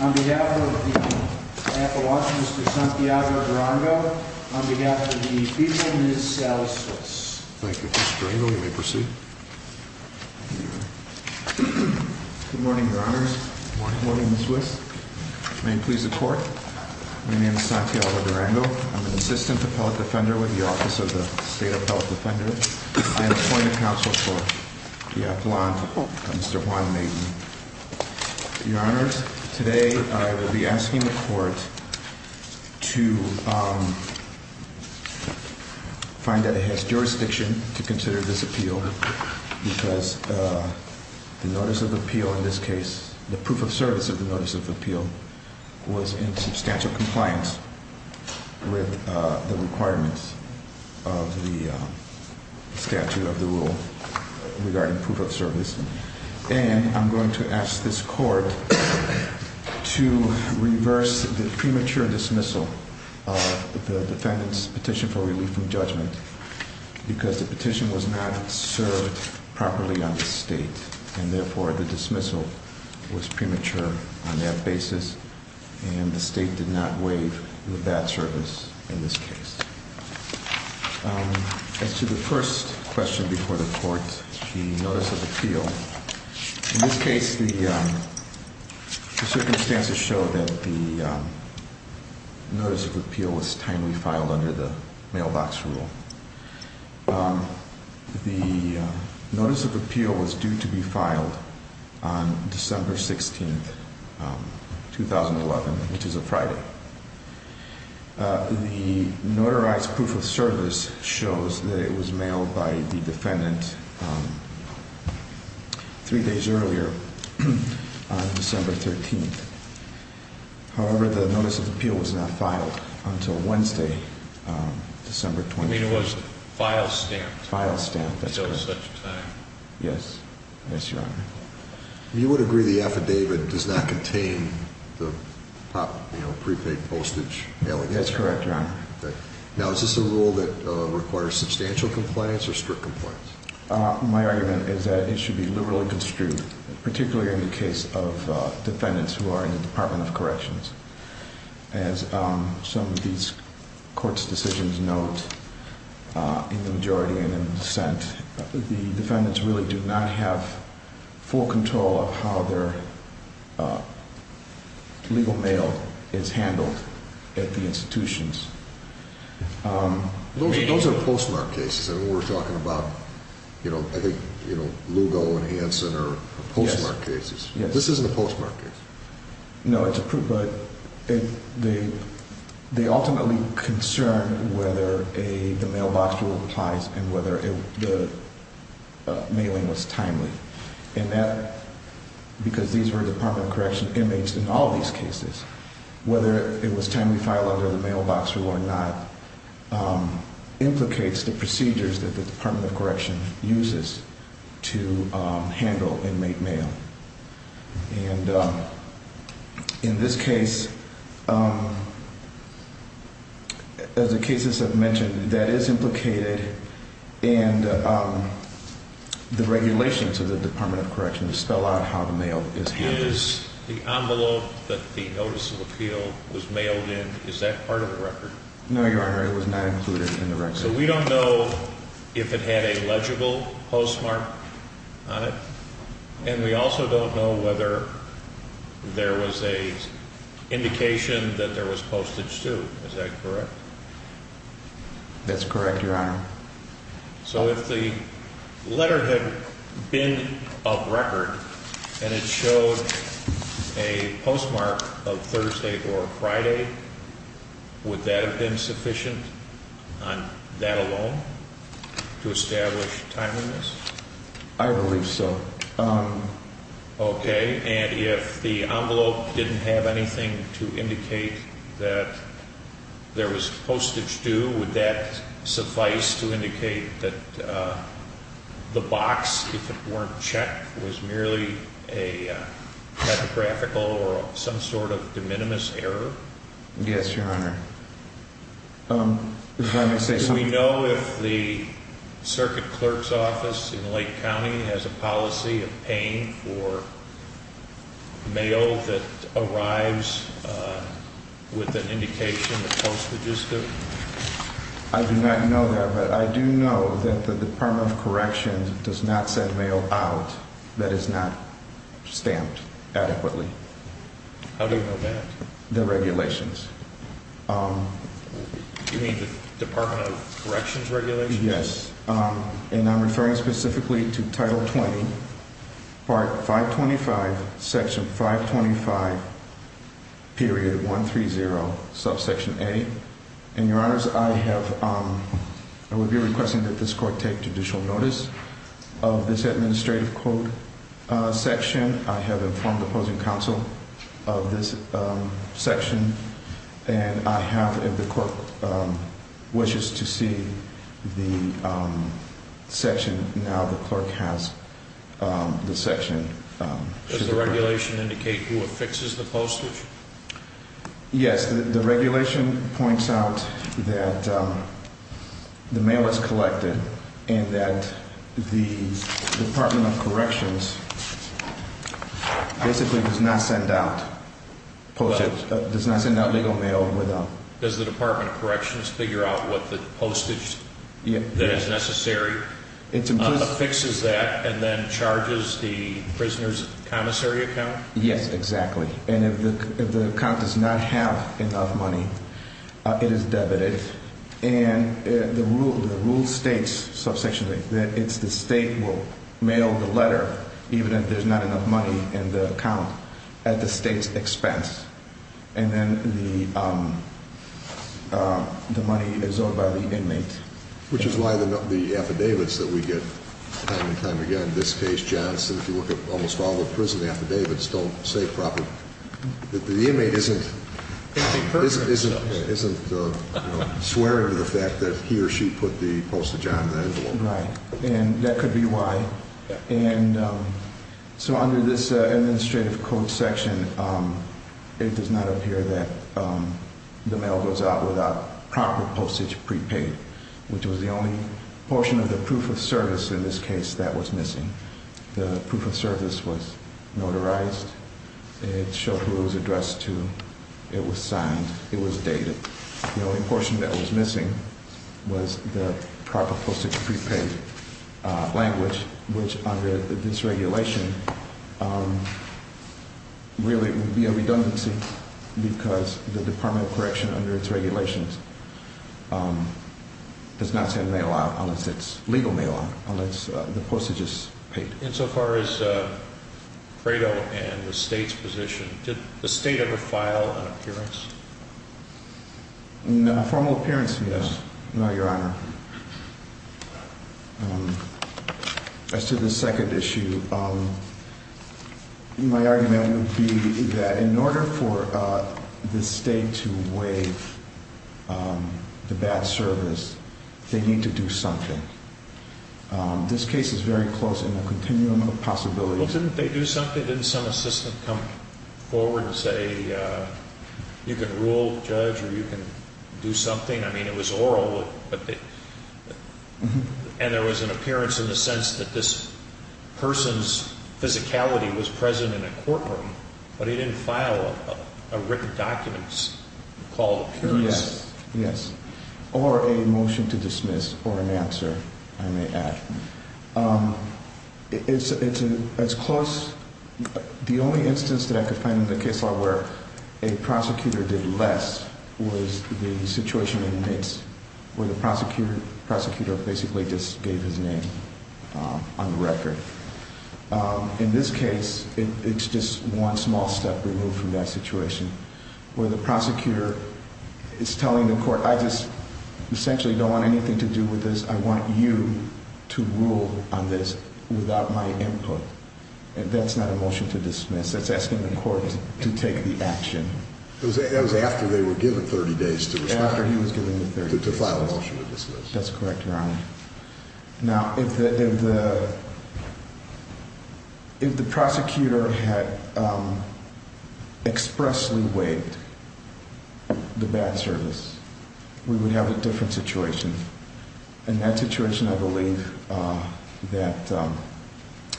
On behalf of the people, Ms. Sally Switz. Thank you, Mr. Durango. You may proceed. Good morning, Your Honors. Good morning, Ms. Switz. May it please the Court, my name is Santiago Durango. I'm an assistant appellate defender with the Office of the State Appellate Defender. I'm appointing counsel for the affluent, Mr. Juan Maiden. Your Honors, today I will be asking the Court to find that it has jurisdiction to consider this appeal because the notice of appeal in this case, the proof of service of the notice of appeal was in substantial compliance. With the requirements of the statute of the rule regarding proof of service. And I'm going to ask this Court to reverse the premature dismissal of the defendant's petition for relief from judgment because the petition was not served properly on the state and therefore the dismissal was premature on that basis. And the state did not waive the bad service in this case. As to the first question before the Court, the notice of appeal. In this case, the circumstances show that the notice of appeal was timely filed under the mailbox rule. The notice of appeal was due to be filed on December 16th, 2011, which is a Friday. The notarized proof of service shows that it was mailed by the defendant three days earlier on December 13th. However, the notice of appeal was not filed until Wednesday, December 21st. I mean, it was file stamped. File stamped, that's correct. At no such time. Yes. Yes, Your Honor. You would agree the affidavit does not contain the prepaid postage allegations? That's correct, Your Honor. Okay. Now, is this a rule that requires substantial compliance or strict compliance? My argument is that it should be liberally construed, particularly in the case of defendants who are in the Department of Corrections. As some of these courts' decisions note in the majority and in the dissent, the defendants really do not have full control of how their legal mail is handled at the institutions. Those are postmarked cases, and we're talking about, you know, I think Lugo and Hanson are postmarked cases. Yes. This isn't a postmarked case. No, it's a proof, but they ultimately concern whether the mailbox rule applies and whether the mailing was timely. And that, because these were Department of Corrections inmates in all these cases, whether it was timely filed under the mailbox rule or not, implicates the procedures that the Department of Corrections uses to handle inmate mail. And in this case, as the cases I've mentioned, that is implicated, and the regulations of the Department of Corrections spell out how the mail is handled. If it is the envelope that the notice of appeal was mailed in, is that part of the record? No, Your Honor, it was not included in the record. So we don't know if it had a legible postmark on it, and we also don't know whether there was an indication that there was postage, too. Is that correct? That's correct, Your Honor. So if the letter had been of record and it showed a postmark of Thursday or Friday, would that have been sufficient on that alone to establish timeliness? I believe so. Okay, and if the envelope didn't have anything to indicate that there was postage due, would that suffice to indicate that the box, if it weren't checked, was merely a typographical or some sort of de minimis error? Yes, Your Honor. We know if the circuit clerk's office in Lake County has a policy of paying for mail that arrives with an indication of postage due? I do not know that, but I do know that the Department of Corrections does not send mail out that is not stamped adequately. How do you know that? The regulations. You mean the Department of Corrections regulations? Yes. And I'm referring specifically to Title 20, Part 525, Section 525.130, Subsection A. And, Your Honors, I would be requesting that this court take judicial notice of this administrative code section. I have informed the opposing counsel of this section, and I have, if the court wishes to see the section, now the clerk has the section. Does the regulation indicate who affixes the postage? Yes, the regulation points out that the mail was collected and that the Department of Corrections basically does not send out legal mail. Does the Department of Corrections figure out what the postage that is necessary affixes that and then charges the prisoner's connoisseur account? Yes, exactly. And if the account does not have enough money, it is debited. And the rule states, subsection A, that the state will mail the letter, even if there's not enough money in the account, at the state's expense. And then the money is owed by the inmate. Which is why the affidavits that we get time and time again, in this case, Johnson, if you look at almost all the prison affidavits, don't say properly that the inmate isn't swearing to the fact that he or she put the postage on the envelope. Right. And that could be why. And so under this administrative code section, it does not appear that the mail goes out without proper postage prepaid, which was the only portion of the proof of service in this case that was missing. The proof of service was notarized. It showed who it was addressed to. It was signed. It was dated. The only portion that was missing was the proper postage prepaid language, which under this regulation really would be a redundancy because the Department of Correction, under its regulations, does not send mail out unless it's legal mail out, unless the postage is paid. Insofar as Credo and the state's position, did the state ever file an appearance? No, a formal appearance, yes. No, Your Honor. As to the second issue, my argument would be that in order for the state to waive the bad service, they need to do something. This case is very close in the continuum of possibilities. Well, didn't they do something? Didn't some assistant come forward and say, you can rule, judge, or you can do something? I mean, it was oral, and there was an appearance in the sense that this person's physicality was present in a courtroom, but he didn't file a written document called appearance. Yes. Or a motion to dismiss or an answer, I may add. The only instance that I could find in the case law where a prosecutor did less was the situation in Mitz where the prosecutor basically just gave his name on the record. In this case, it's just one small step removed from that situation where the prosecutor is telling the court, I just essentially don't want anything to do with this. I want you to rule on this without my input, and that's not a motion to dismiss. That's asking the court to take the action. That was after they were given 30 days to respond. After he was given the 30 days. To file a motion to dismiss. That's correct, Your Honor. Now, if the prosecutor had expressly waived the bad service, we would have a different situation, and that situation, I believe, that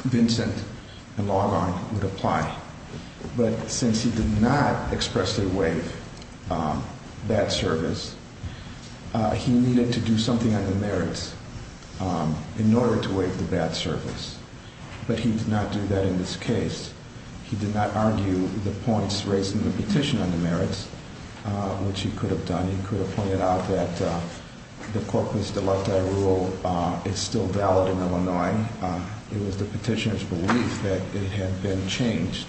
Vincent and Logon would apply. But since he did not expressly waive that service, he needed to do something on the merits in order to waive the bad service. But he did not do that in this case. He did not argue the points raised in the petition on the merits, which he could have done. He could have pointed out that the corpus delicta rule is still valid in Illinois. It was the petitioner's belief that it had been changed.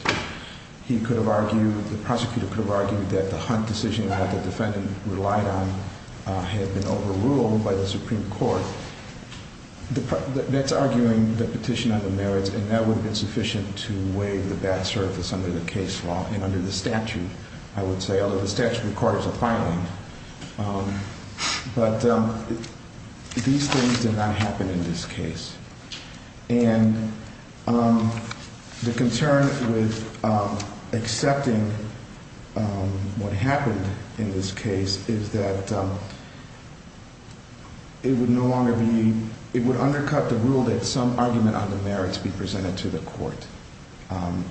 He could have argued, the prosecutor could have argued, that the Hunt decision that the defendant relied on had been overruled by the Supreme Court. That's arguing the petition on the merits, and that would have been sufficient to waive the bad service under the case law and under the statute, I would say, although the statute of the court is a filing. But these things did not happen in this case. And the concern with accepting what happened in this case is that it would undercut the rule that some argument on the merits be presented to the court.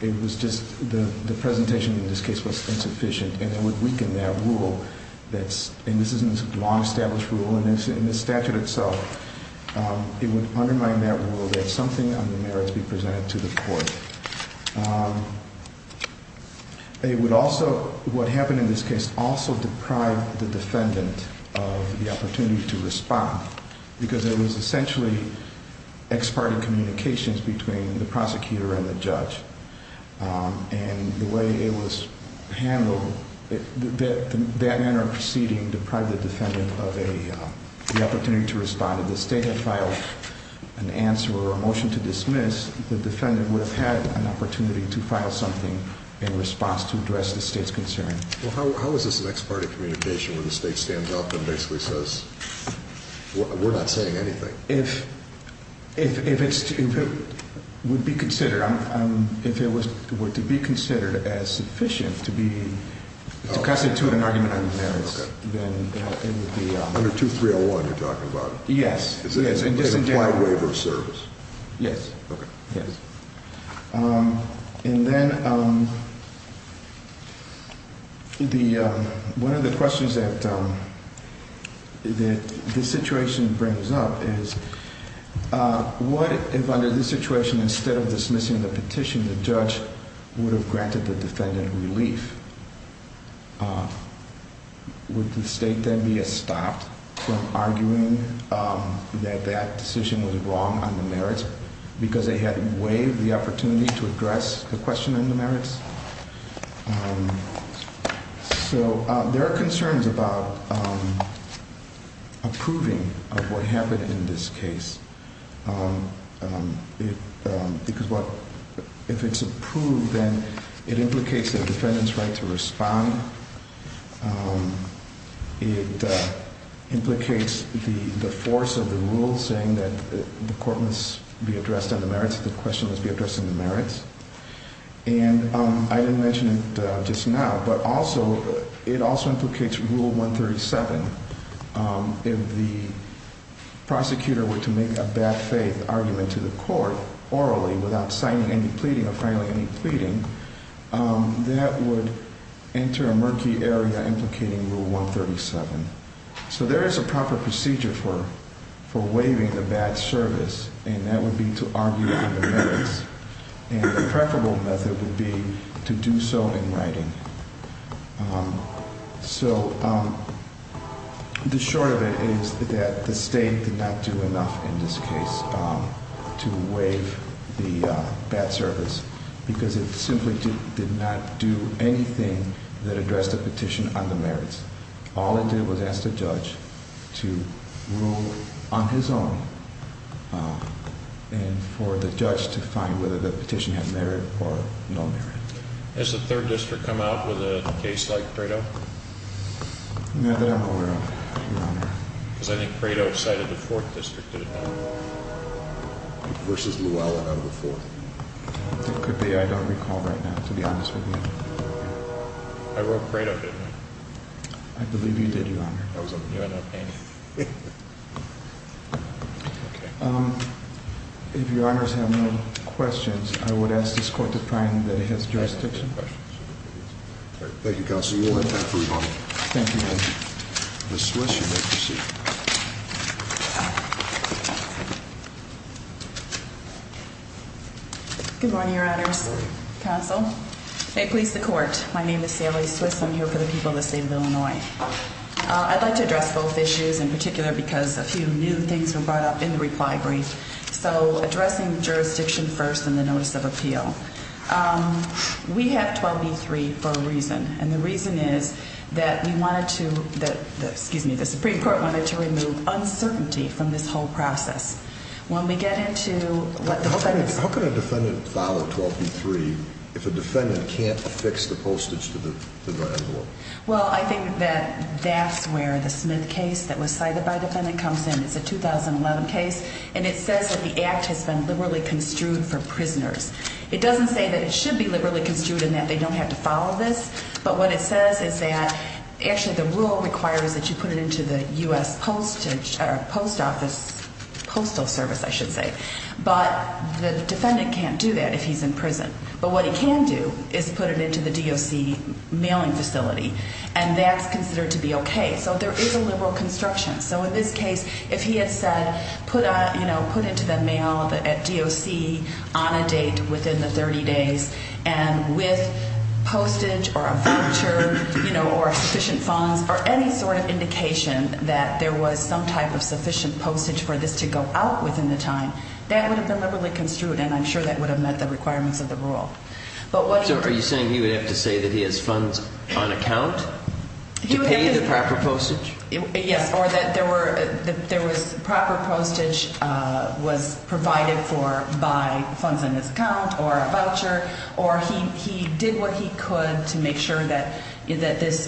It was just the presentation in this case was insufficient, and it would weaken that rule. And this is a law-established rule, and it's in the statute itself. It would undermine that rule that something on the merits be presented to the court. It would also, what happened in this case, also deprive the defendant of the opportunity to respond because it was essentially ex parte communications between the prosecutor and the judge. And the way it was handled, that inter-proceeding deprived the defendant of the opportunity to respond. If the State had filed an answer or a motion to dismiss, the defendant would have had an opportunity to file something in response to address the State's concern. Well, how is this an ex parte communication when the State stands up and basically says, we're not saying anything? If it would be considered, if it were to be considered as sufficient to constitute an argument on the merits, then it would be. Under 2301 you're talking about? Yes. Is it an implied waiver of service? Yes. Okay. Yes. And then one of the questions that this situation brings up is, what if under this situation instead of dismissing the petition, the judge would have granted the defendant relief? Would the State then be stopped from arguing that that decision was wrong on the merits because they had waived the opportunity to address the question on the merits? So there are concerns about approving of what happened in this case. Because if it's approved, then it implicates the defendant's right to respond. It implicates the force of the rule saying that the court must be addressed on the merits, the question must be addressed on the merits. And I didn't mention it just now, but also, it also implicates Rule 137. If the prosecutor were to make a bad faith argument to the court orally without signing any pleading or filing any pleading, that would enter a murky area implicating Rule 137. So there is a proper procedure for waiving a bad service, and that would be to argue on the merits. And the preferable method would be to do so in writing. So the short of it is that the State did not do enough in this case to waive the bad service because it simply did not do anything that addressed the petition on the merits. All it did was ask the judge to rule on his own and for the judge to find whether the petition had merit or no merit. Has the 3rd District come out with a case like Credo? No, they don't know we're on there. Because I think Credo cited the 4th District. Versus Llewellyn out of the 4th. It could be I don't recall right now, to be honest with you. I wrote Credo, didn't I? I believe you did, Your Honor. That was a new and old painting. If Your Honors have no questions, I would ask this court to find that it has jurisdiction. Thank you, Counsel. You will have time for rebuttal. Thank you, Judge. Ms. Schlesser, you may proceed. Good morning, Your Honors. Counsel. May it please the Court, my name is Sally Schlesser. I'm here for the people of the State of Illinois. I'd like to address both issues in particular because a few new things were brought up in the reply brief. So, addressing jurisdiction first in the Notice of Appeal. We have 12B-3 for a reason. And the reason is that we wanted to, excuse me, the Supreme Court wanted to remove uncertainty from this whole process. When we get into... How can a defendant follow 12B-3 if a defendant can't affix the postage to the grand law? Well, I think that that's where the Smith case that was cited by the defendant comes in. It's a 2011 case and it says that the act has been liberally construed for prisoners. It doesn't say that it should be liberally construed and that they don't have to follow this. But what it says is that, actually, the rule requires that you put it into the U.S. Postage, or Post Office, Postal Service, I should say. But the defendant can't do that if he's in prison. But what he can do is put it into the DOC mailing facility. And that's considered to be okay. So there is a liberal construction. So in this case, if he had said, you know, put it into the mail at DOC on a date within the 30 days, and with postage or a voucher, you know, or sufficient funds, or any sort of indication that there was some type of sufficient postage for this to go out within the time, that would have been liberally construed and I'm sure that would have met the requirements of the rule. So are you saying he would have to say that he has funds on account to pay the proper postage? Yes, or that there was proper postage was provided for by funds in his account or a voucher, or he did what he could to make sure that this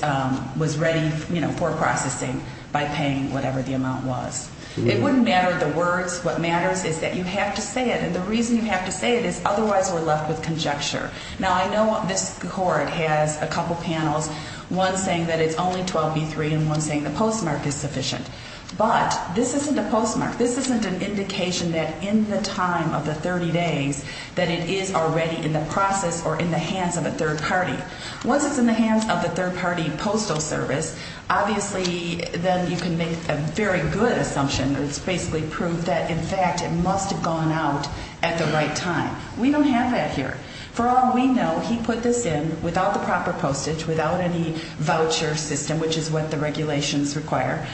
was ready, you know, for processing by paying whatever the amount was. It wouldn't matter the words. What matters is that you have to say it. And the reason you have to say it is otherwise we're left with conjecture. Now, I know this court has a couple panels, one saying that it's only 12B3 and one saying the postmark is sufficient. But this isn't a postmark. This isn't an indication that in the time of the 30 days that it is already in the process or in the hands of a third party. Once it's in the hands of a third party postal service, obviously, then you can make a very good assumption. It's basically proved that, in fact, it must have gone out at the right time. We don't have that here. For all we know, he put this in without the proper postage, without any voucher system, which is what the regulations require.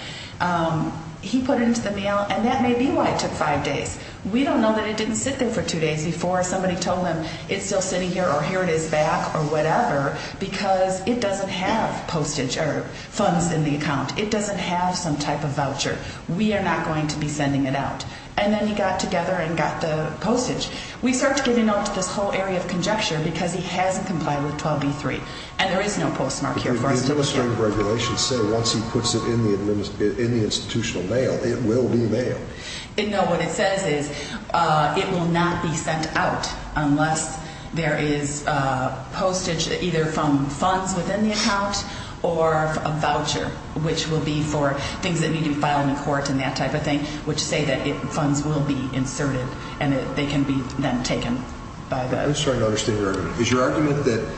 He put it into the mail, and that may be why it took five days. We don't know that it didn't sit there for two days before somebody told him it's still sitting here or here it is back or whatever because it doesn't have postage or funds in the account. It doesn't have some type of voucher. We are not going to be sending it out. And then he got together and got the postage. We start to get into this whole area of conjecture because he hasn't complied with 12b-3, and there is no postmark here. The administrative regulations say once he puts it in the institutional mail, it will be mailed. No, what it says is it will not be sent out unless there is postage either from funds within the account or a voucher, which will be for things that need to be filed in court and that type of thing, which say that funds will be inserted and they can be then taken. I'm starting to understand your argument. Is your argument that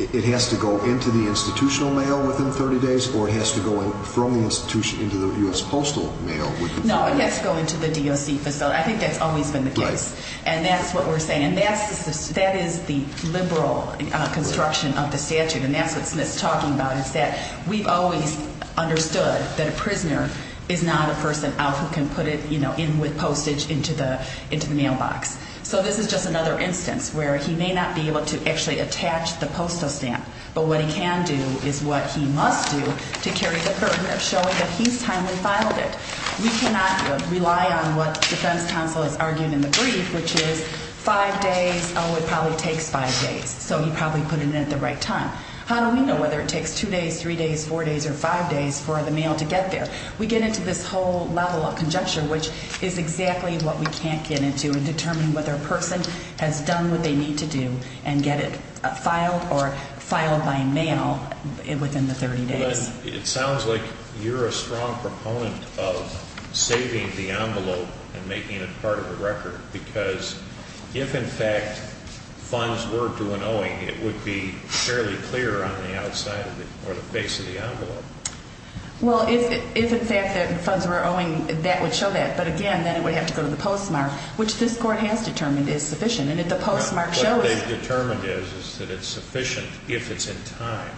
it has to go into the institutional mail within 30 days or it has to go from the institution into the U.S. Postal Mail? No, it has to go into the DOC facility. I think that's always been the case, and that's what we're saying. That is the liberal construction of the statute, and that's what Smith's talking about. It's that we've always understood that a prisoner is not a person out who can put it in with postage into the mailbox. So this is just another instance where he may not be able to actually attach the postal stamp, but what he can do is what he must do to carry the burden of showing that he's timely filed it. We cannot rely on what the defense counsel is arguing in the brief, which is five days. Oh, it probably takes five days, so he probably put it in at the right time. How do we know whether it takes two days, three days, four days, or five days for the mail to get there? We get into this whole level of conjecture, which is exactly what we can't get into in determining whether a person has done what they need to do and get it filed or filed by mail within the 30 days. It sounds like you're a strong proponent of saving the envelope and making it part of the record because if, in fact, funds were due an owing, it would be fairly clear on the outside or the face of the envelope. Well, if, in fact, funds were owing, that would show that. But, again, then it would have to go to the postmark, which this Court has determined is sufficient. And if the postmark shows… What they've determined is that it's sufficient if it's in time.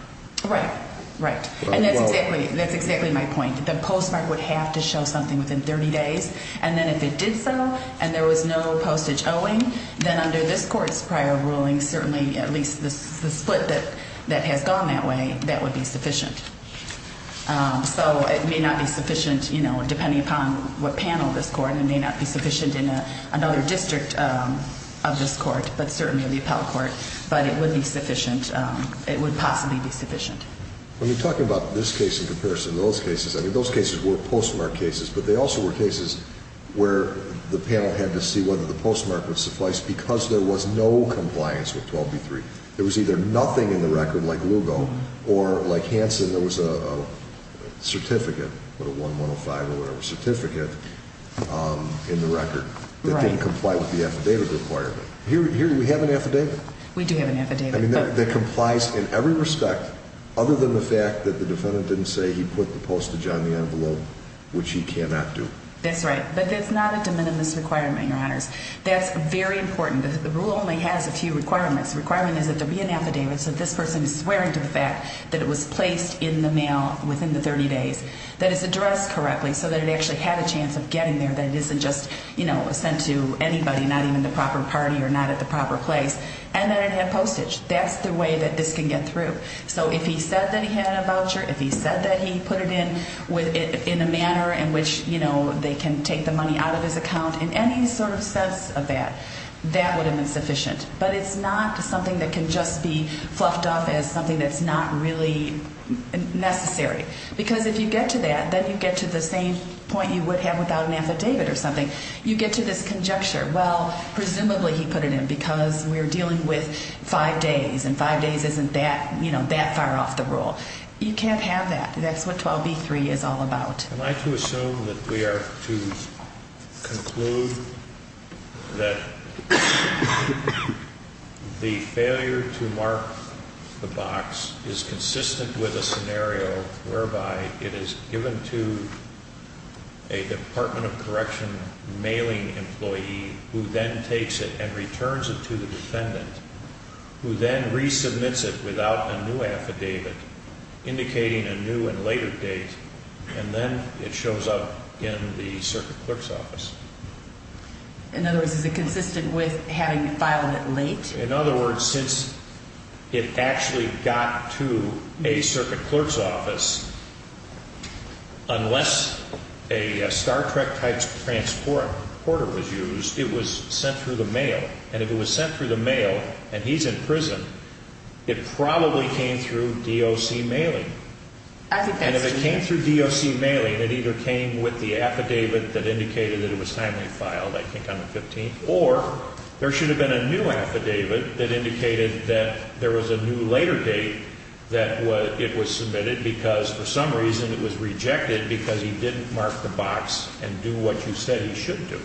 Right, right. And that's exactly my point. The postmark would have to show something within 30 days. And then if it did so and there was no postage owing, then under this Court's prior ruling, certainly at least the split that has gone that way, that would be sufficient. So it may not be sufficient, you know, depending upon what panel of this Court. It may not be sufficient in another district of this Court, but certainly the Appellate Court. But it would be sufficient. It would possibly be sufficient. When you're talking about this case in comparison to those cases, I mean, those cases were postmark cases, but they also were cases where the panel had to see whether the postmark would suffice because there was no compliance with 12b-3. There was either nothing in the record, like Lugo, or, like Hansen, there was a certificate, a 1-105 or whatever certificate in the record that didn't comply with the affidavit requirement. Here we have an affidavit. We do have an affidavit. I mean, that complies in every respect other than the fact that the defendant didn't say he put the postage on the envelope, which he cannot do. That's right. But that's not a de minimis requirement, Your Honors. That's very important. The rule only has a few requirements. The requirement is that there be an affidavit so that this person is swearing to the fact that it was placed in the mail within the 30 days, that it's addressed correctly so that it actually had a chance of getting there, that it isn't just, you know, sent to anybody, not even the proper party or not at the proper place, and that it had postage. That's the way that this can get through. So if he said that he had a voucher, if he said that he put it in in a manner in which, you know, they can take the money out of his account, in any sort of sense of that, that would have been sufficient. But it's not something that can just be fluffed up as something that's not really necessary. Because if you get to that, then you get to the same point you would have without an affidavit or something. You get to this conjecture, well, presumably he put it in because we're dealing with five days, and five days isn't that, you know, that far off the rule. You can't have that. That's what 12b-3 is all about. I'd like to assume that we are to conclude that the failure to mark the box is consistent with a scenario whereby it is given to a Department of Correction mailing employee who then takes it and returns it to the defendant, who then resubmits it without a new affidavit, indicating a new and later date, and then it shows up in the circuit clerk's office. In other words, is it consistent with having filed it late? In other words, since it actually got to a circuit clerk's office, unless a Star Trek-type transporter was used, it was sent through the mail. And if it was sent through the mail and he's in prison, it probably came through DOC mailing. And if it came through DOC mailing, it either came with the affidavit that indicated that it was timely filed, I think on the 15th, or there should have been a new affidavit that indicated that there was a new later date that it was submitted because for some reason it was rejected because he didn't mark the box and do what you said he should do.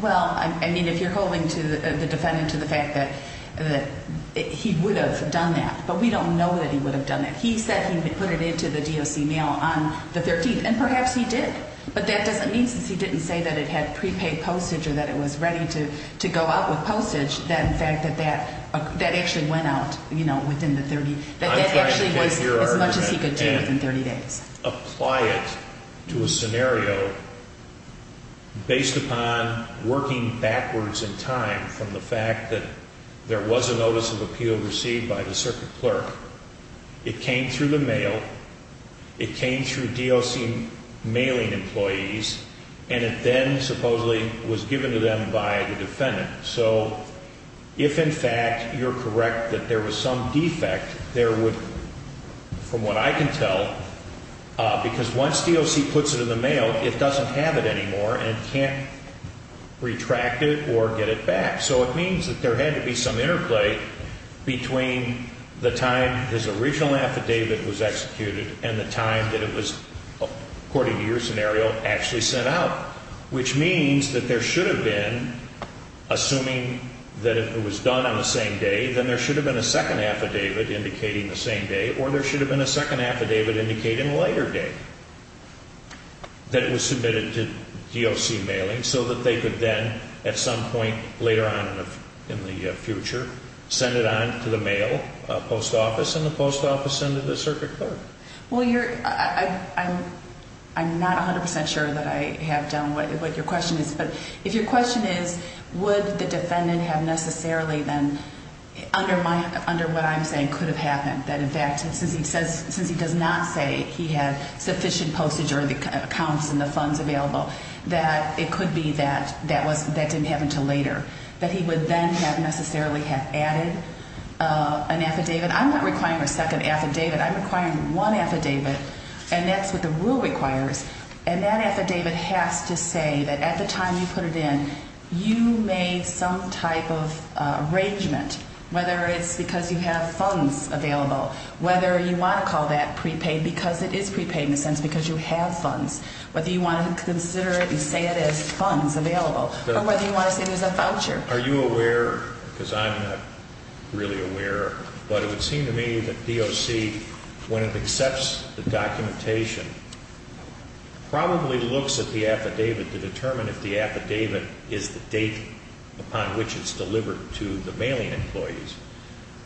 Well, I mean, if you're holding the defendant to the fact that he would have done that, but we don't know that he would have done that. He said he put it into the DOC mail on the 13th, and perhaps he did. But that doesn't mean, since he didn't say that it had prepaid postage or that it was ready to go out with postage, that in fact that actually went out within the 30 days. I'm trying to take your argument and apply it to a scenario based upon working backwards in time from the fact that there was a notice of appeal received by the circuit clerk. It came through the mail. It came through DOC mailing employees. So if, in fact, you're correct that there was some defect, there would, from what I can tell, because once DOC puts it in the mail, it doesn't have it anymore and can't retract it or get it back. So it means that there had to be some interplay between the time his original affidavit was executed and the time that it was, according to your scenario, actually sent out, which means that there should have been, assuming that it was done on the same day, then there should have been a second affidavit indicating the same day, or there should have been a second affidavit indicating a later day that was submitted to DOC mailing so that they could then, at some point later on in the future, send it on to the mail post office and the post office sent it to the circuit clerk. Well, I'm not 100 percent sure that I have done what your question is, but if your question is would the defendant have necessarily then, under what I'm saying, could have happened, that, in fact, since he does not say he had sufficient postage or the accounts and the funds available, that it could be that that didn't happen until later, that he would then have necessarily have added an affidavit. I'm not requiring a second affidavit. I'm requiring one affidavit, and that's what the rule requires, and that affidavit has to say that at the time you put it in, you made some type of arrangement, whether it's because you have funds available, whether you want to call that prepaid, because it is prepaid in a sense because you have funds, whether you want to consider it and say it has funds available, or whether you want to say there's a voucher. Are you aware, because I'm not really aware, but it would seem to me that DOC, when it accepts the documentation, probably looks at the affidavit to determine if the affidavit is the date upon which it's delivered to the mailing employees,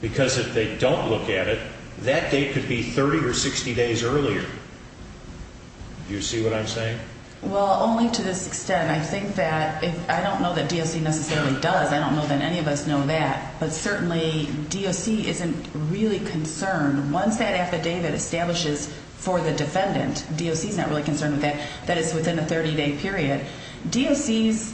because if they don't look at it, that date could be 30 or 60 days earlier. Do you see what I'm saying? Well, only to this extent. I don't know that DOC necessarily does. I don't know that any of us know that, but certainly DOC isn't really concerned. Once that affidavit establishes for the defendant, DOC is not really concerned with that, that it's within a 30-day period. DOC's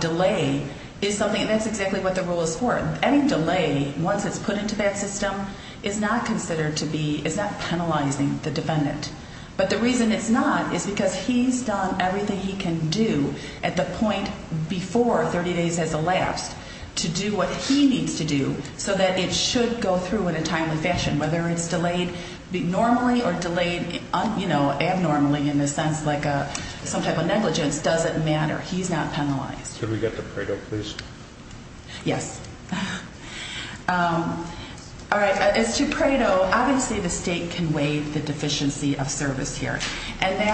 delay is something, and that's exactly what the rule is for. Any delay, once it's put into that system, is not penalizing the defendant. But the reason it's not is because he's done everything he can do at the point before 30 days has elapsed to do what he needs to do so that it should go through in a timely fashion. Whether it's delayed normally or delayed abnormally in the sense like some type of negligence doesn't matter. He's not penalized. Could we get the Pareto, please? Yes. All right, as to Pareto, obviously the state can weigh the deficiency of service here, and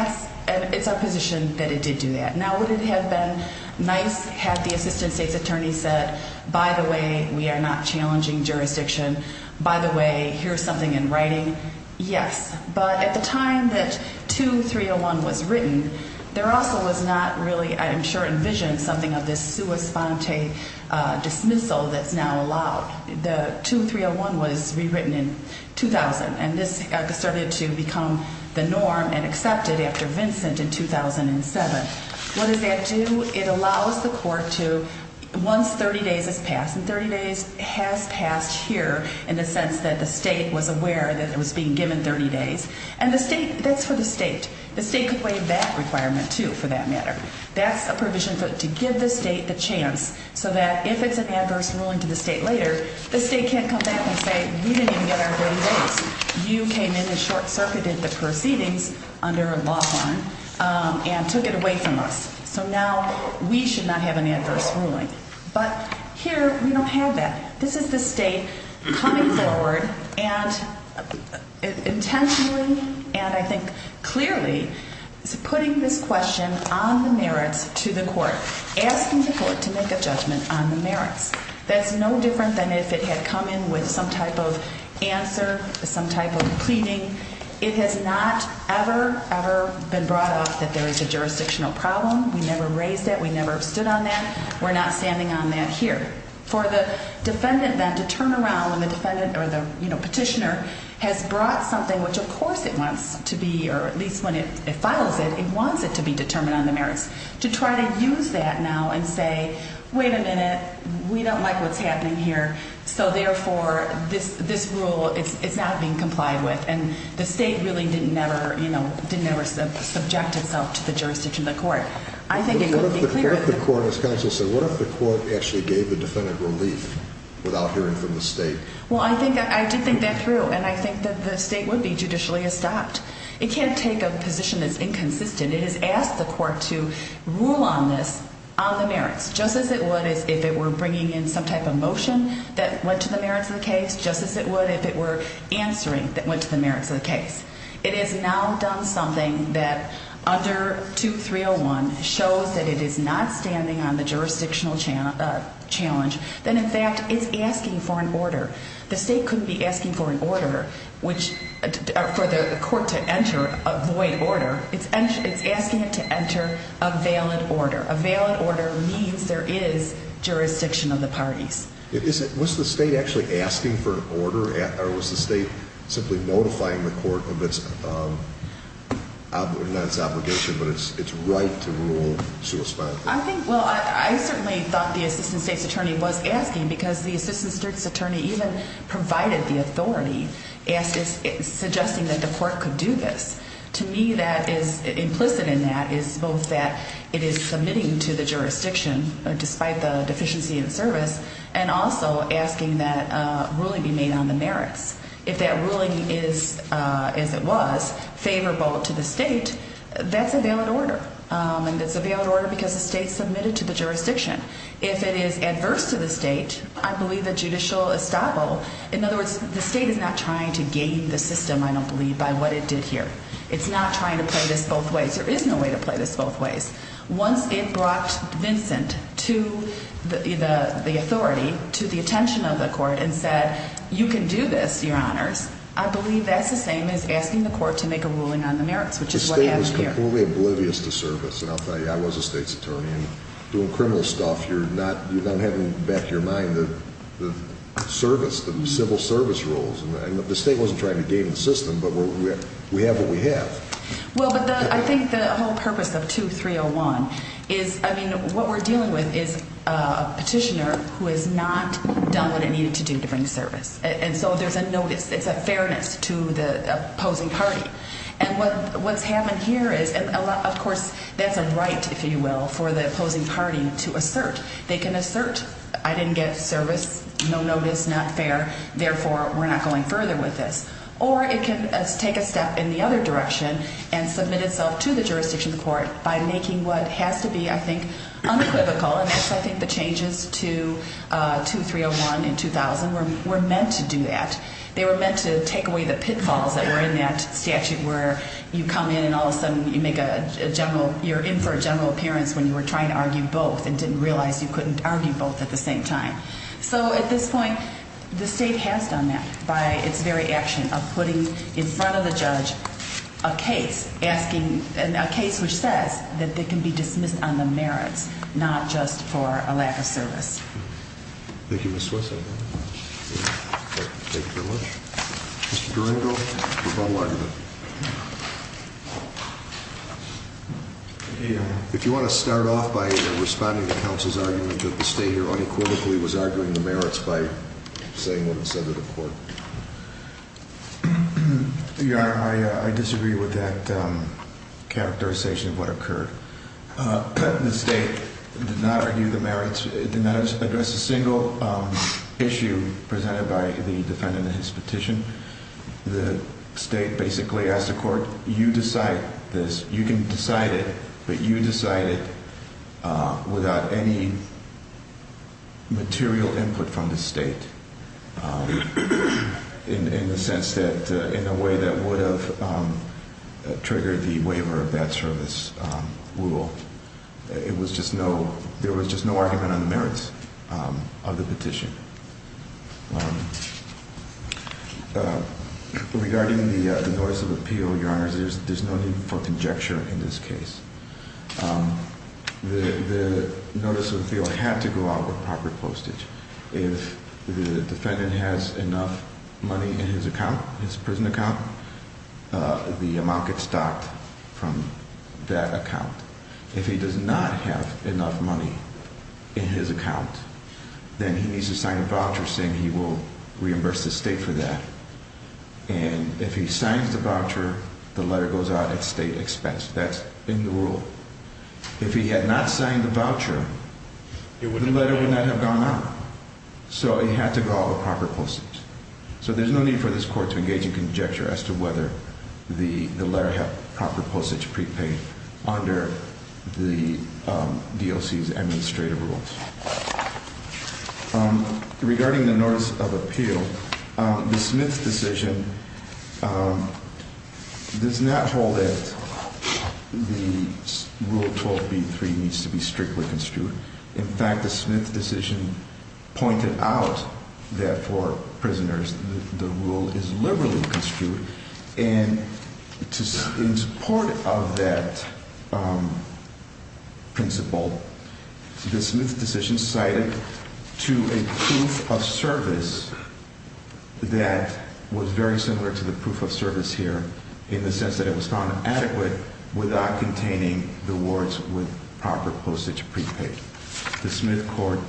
it's our position that it did do that. Now, would it have been nice had the assistant state's attorney said, by the way, we are not challenging jurisdiction, by the way, here's something in writing? Yes. But at the time that 2301 was written, there also was not really, I am sure, envisioned something of this sua sponte dismissal that's now allowed. The 2301 was rewritten in 2000, and this started to become the norm and accepted after Vincent in 2007. What does that do? It allows the court to, once 30 days has passed, and 30 days has passed here in the sense that the state was aware that it was being given 30 days, and that's for the state. The state could weigh that requirement, too, for that matter. That's a provision to give the state the chance so that if it's an adverse ruling to the state later, the state can't come back and say, we didn't even get our 30 days. You came in and short-circuited the proceedings under law harm and took it away from us. So now we should not have an adverse ruling. But here we don't have that. This is the state coming forward and intentionally and I think clearly putting this question on the merits to the court, asking the court to make a judgment on the merits. That's no different than if it had come in with some type of answer, some type of pleading. It has not ever, ever been brought up that there is a jurisdictional problem. We never raised that. We never stood on that. We're not standing on that here. For the defendant then to turn around when the petitioner has brought something, which of course it wants to be, or at least when it files it, it wants it to be determined on the merits, to try to use that now and say, wait a minute, we don't like what's happening here, so therefore this rule is not being complied with. And the state really didn't ever subject itself to the jurisdiction of the court. What if the court, as counsel said, what if the court actually gave the defendant relief without hearing from the state? Well, I did think that through and I think that the state would be judicially stopped. It can't take a position that's inconsistent. It has asked the court to rule on this, on the merits, just as it would if it were bringing in some type of motion that went to the merits of the case, just as it would if it were answering that went to the merits of the case. It has now done something that under 2301 shows that it is not standing on the jurisdictional challenge, that in fact it's asking for an order. The state couldn't be asking for an order for the court to enter a void order. It's asking it to enter a valid order. A valid order means there is jurisdiction of the parties. Was the state actually asking for an order or was the state simply notifying the court of its, not its obligation, but its right to rule? I think, well, I certainly thought the assistant state's attorney was asking because the assistant state's attorney even provided the authority, suggesting that the court could do this. To me that is implicit in that is both that it is submitting to the jurisdiction, despite the deficiency in service, and also asking that ruling be made on the merits. If that ruling is, as it was, favorable to the state, that's a valid order. And it's a valid order because the state submitted to the jurisdiction. If it is adverse to the state, I believe a judicial estoppel, in other words, the state is not trying to game the system, I don't believe, by what it did here. It's not trying to play this both ways. There is no way to play this both ways. Once it brought Vincent to the authority, to the attention of the court, and said, you can do this, your honors, I believe that's the same as asking the court to make a ruling on the merits, which is what happened here. The state was completely oblivious to service, and I'll tell you, I was a state's attorney. Doing criminal stuff, you're not having back your mind the service, the civil service rules. The state wasn't trying to game the system, but we have what we have. Well, but I think the whole purpose of 2301 is, I mean, what we're dealing with is a petitioner who has not done what it needed to do to bring service. And so there's a notice, it's a fairness to the opposing party. And what's happened here is, of course, that's a right, if you will, for the opposing party to assert. They can assert, I didn't get service, no notice, not fair, therefore we're not going further with this. Or it can take a step in the other direction and submit itself to the jurisdiction of the court by making what has to be, I think, unequivocal, and that's, I think, the changes to 2301 and 2000 were meant to do that. They were meant to take away the pitfalls that were in that statute where you come in and all of a sudden you make a general, you're in for a general appearance when you were trying to argue both and didn't realize you couldn't argue both at the same time. So at this point, the state has done that by its very action of putting in front of the judge a case asking, a case which says that they can be dismissed on the merits, not just for a lack of service. Thank you, Ms. Swinson. Thank you very much. Mr. Durango, rebuttal argument. If you want to start off by responding to counsel's argument that the state here unequivocally was arguing the merits by saying what it said to the court. I disagree with that characterization of what occurred. The state did not argue the merits, did not address a single issue presented by the defendant in his petition. The state basically asked the court, you decide this, you can decide it, but you decide it without any material input from the state in the sense that, in a way that would have triggered the waiver of that service rule. There was just no argument on the merits of the petition. Regarding the notice of appeal, your honors, there's no need for conjecture in this case. The notice of appeal had to go out with proper postage. If the defendant has enough money in his account, his prison account, the amount gets docked from that account. If he does not have enough money in his account, then he needs to sign a voucher saying he will reimburse the state for that. And if he signs the voucher, the letter goes out at state expense. That's in the rule. If he had not signed the voucher, the letter would not have gone out. So it had to go out with proper postage. So there's no need for this court to engage in conjecture as to whether the letter had proper postage prepaid under the DOC's administrative rules. Regarding the notice of appeal, the Smith decision does not hold that the Rule 12b-3 needs to be strictly construed. In fact, the Smith decision pointed out that for prisoners, the rule is liberally construed. And in support of that principle, the Smith decision cited to a proof of service that was very similar to the proof of service here in the sense that it was found adequate without containing the words with proper postage prepaid. The Smith court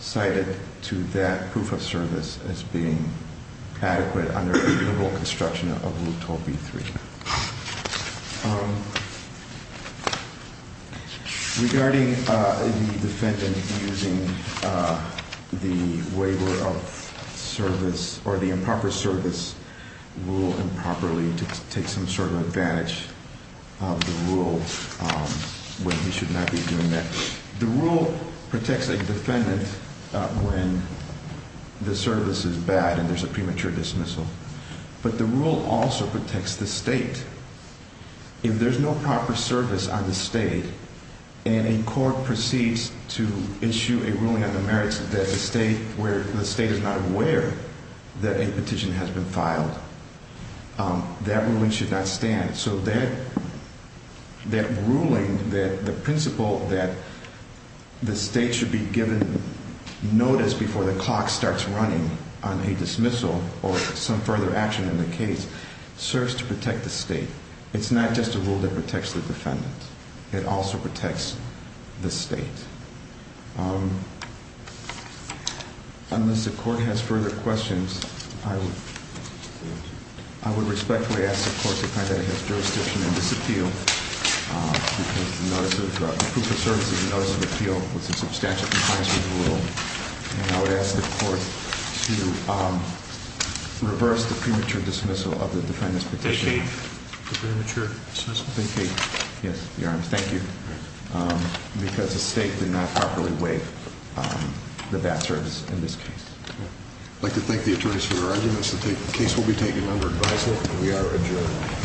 cited to that proof of service as being adequate under the liberal construction of Rule 12b-3. Regarding the defendant using the waiver of service or the improper service rule improperly to take some sort of advantage of the rule when he should not be doing that. The rule protects a defendant when the service is bad and there's a premature dismissal. But the rule also protects the state. If there's no proper service on the state and a court proceeds to issue a ruling on the merits that the state is not aware that a petition has been filed, that ruling should not stand. So that ruling, the principle that the state should be given notice before the clock starts running on a dismissal or some further action in the case, serves to protect the state. It's not just a rule that protects the defendant. It also protects the state. Unless the court has further questions, I would respectfully ask the court to find that it has jurisdiction in this appeal. Because the proof of service in the notice of appeal was a substantial compliance with the rule. And I would ask the court to reverse the premature dismissal of the defendant's petition. Thank you. Yes, Your Honor. Thank you. Because the state did not properly waive the bad service in this case. I'd like to thank the attorneys for their arguments. The case will be taken under advisory. We are adjourned.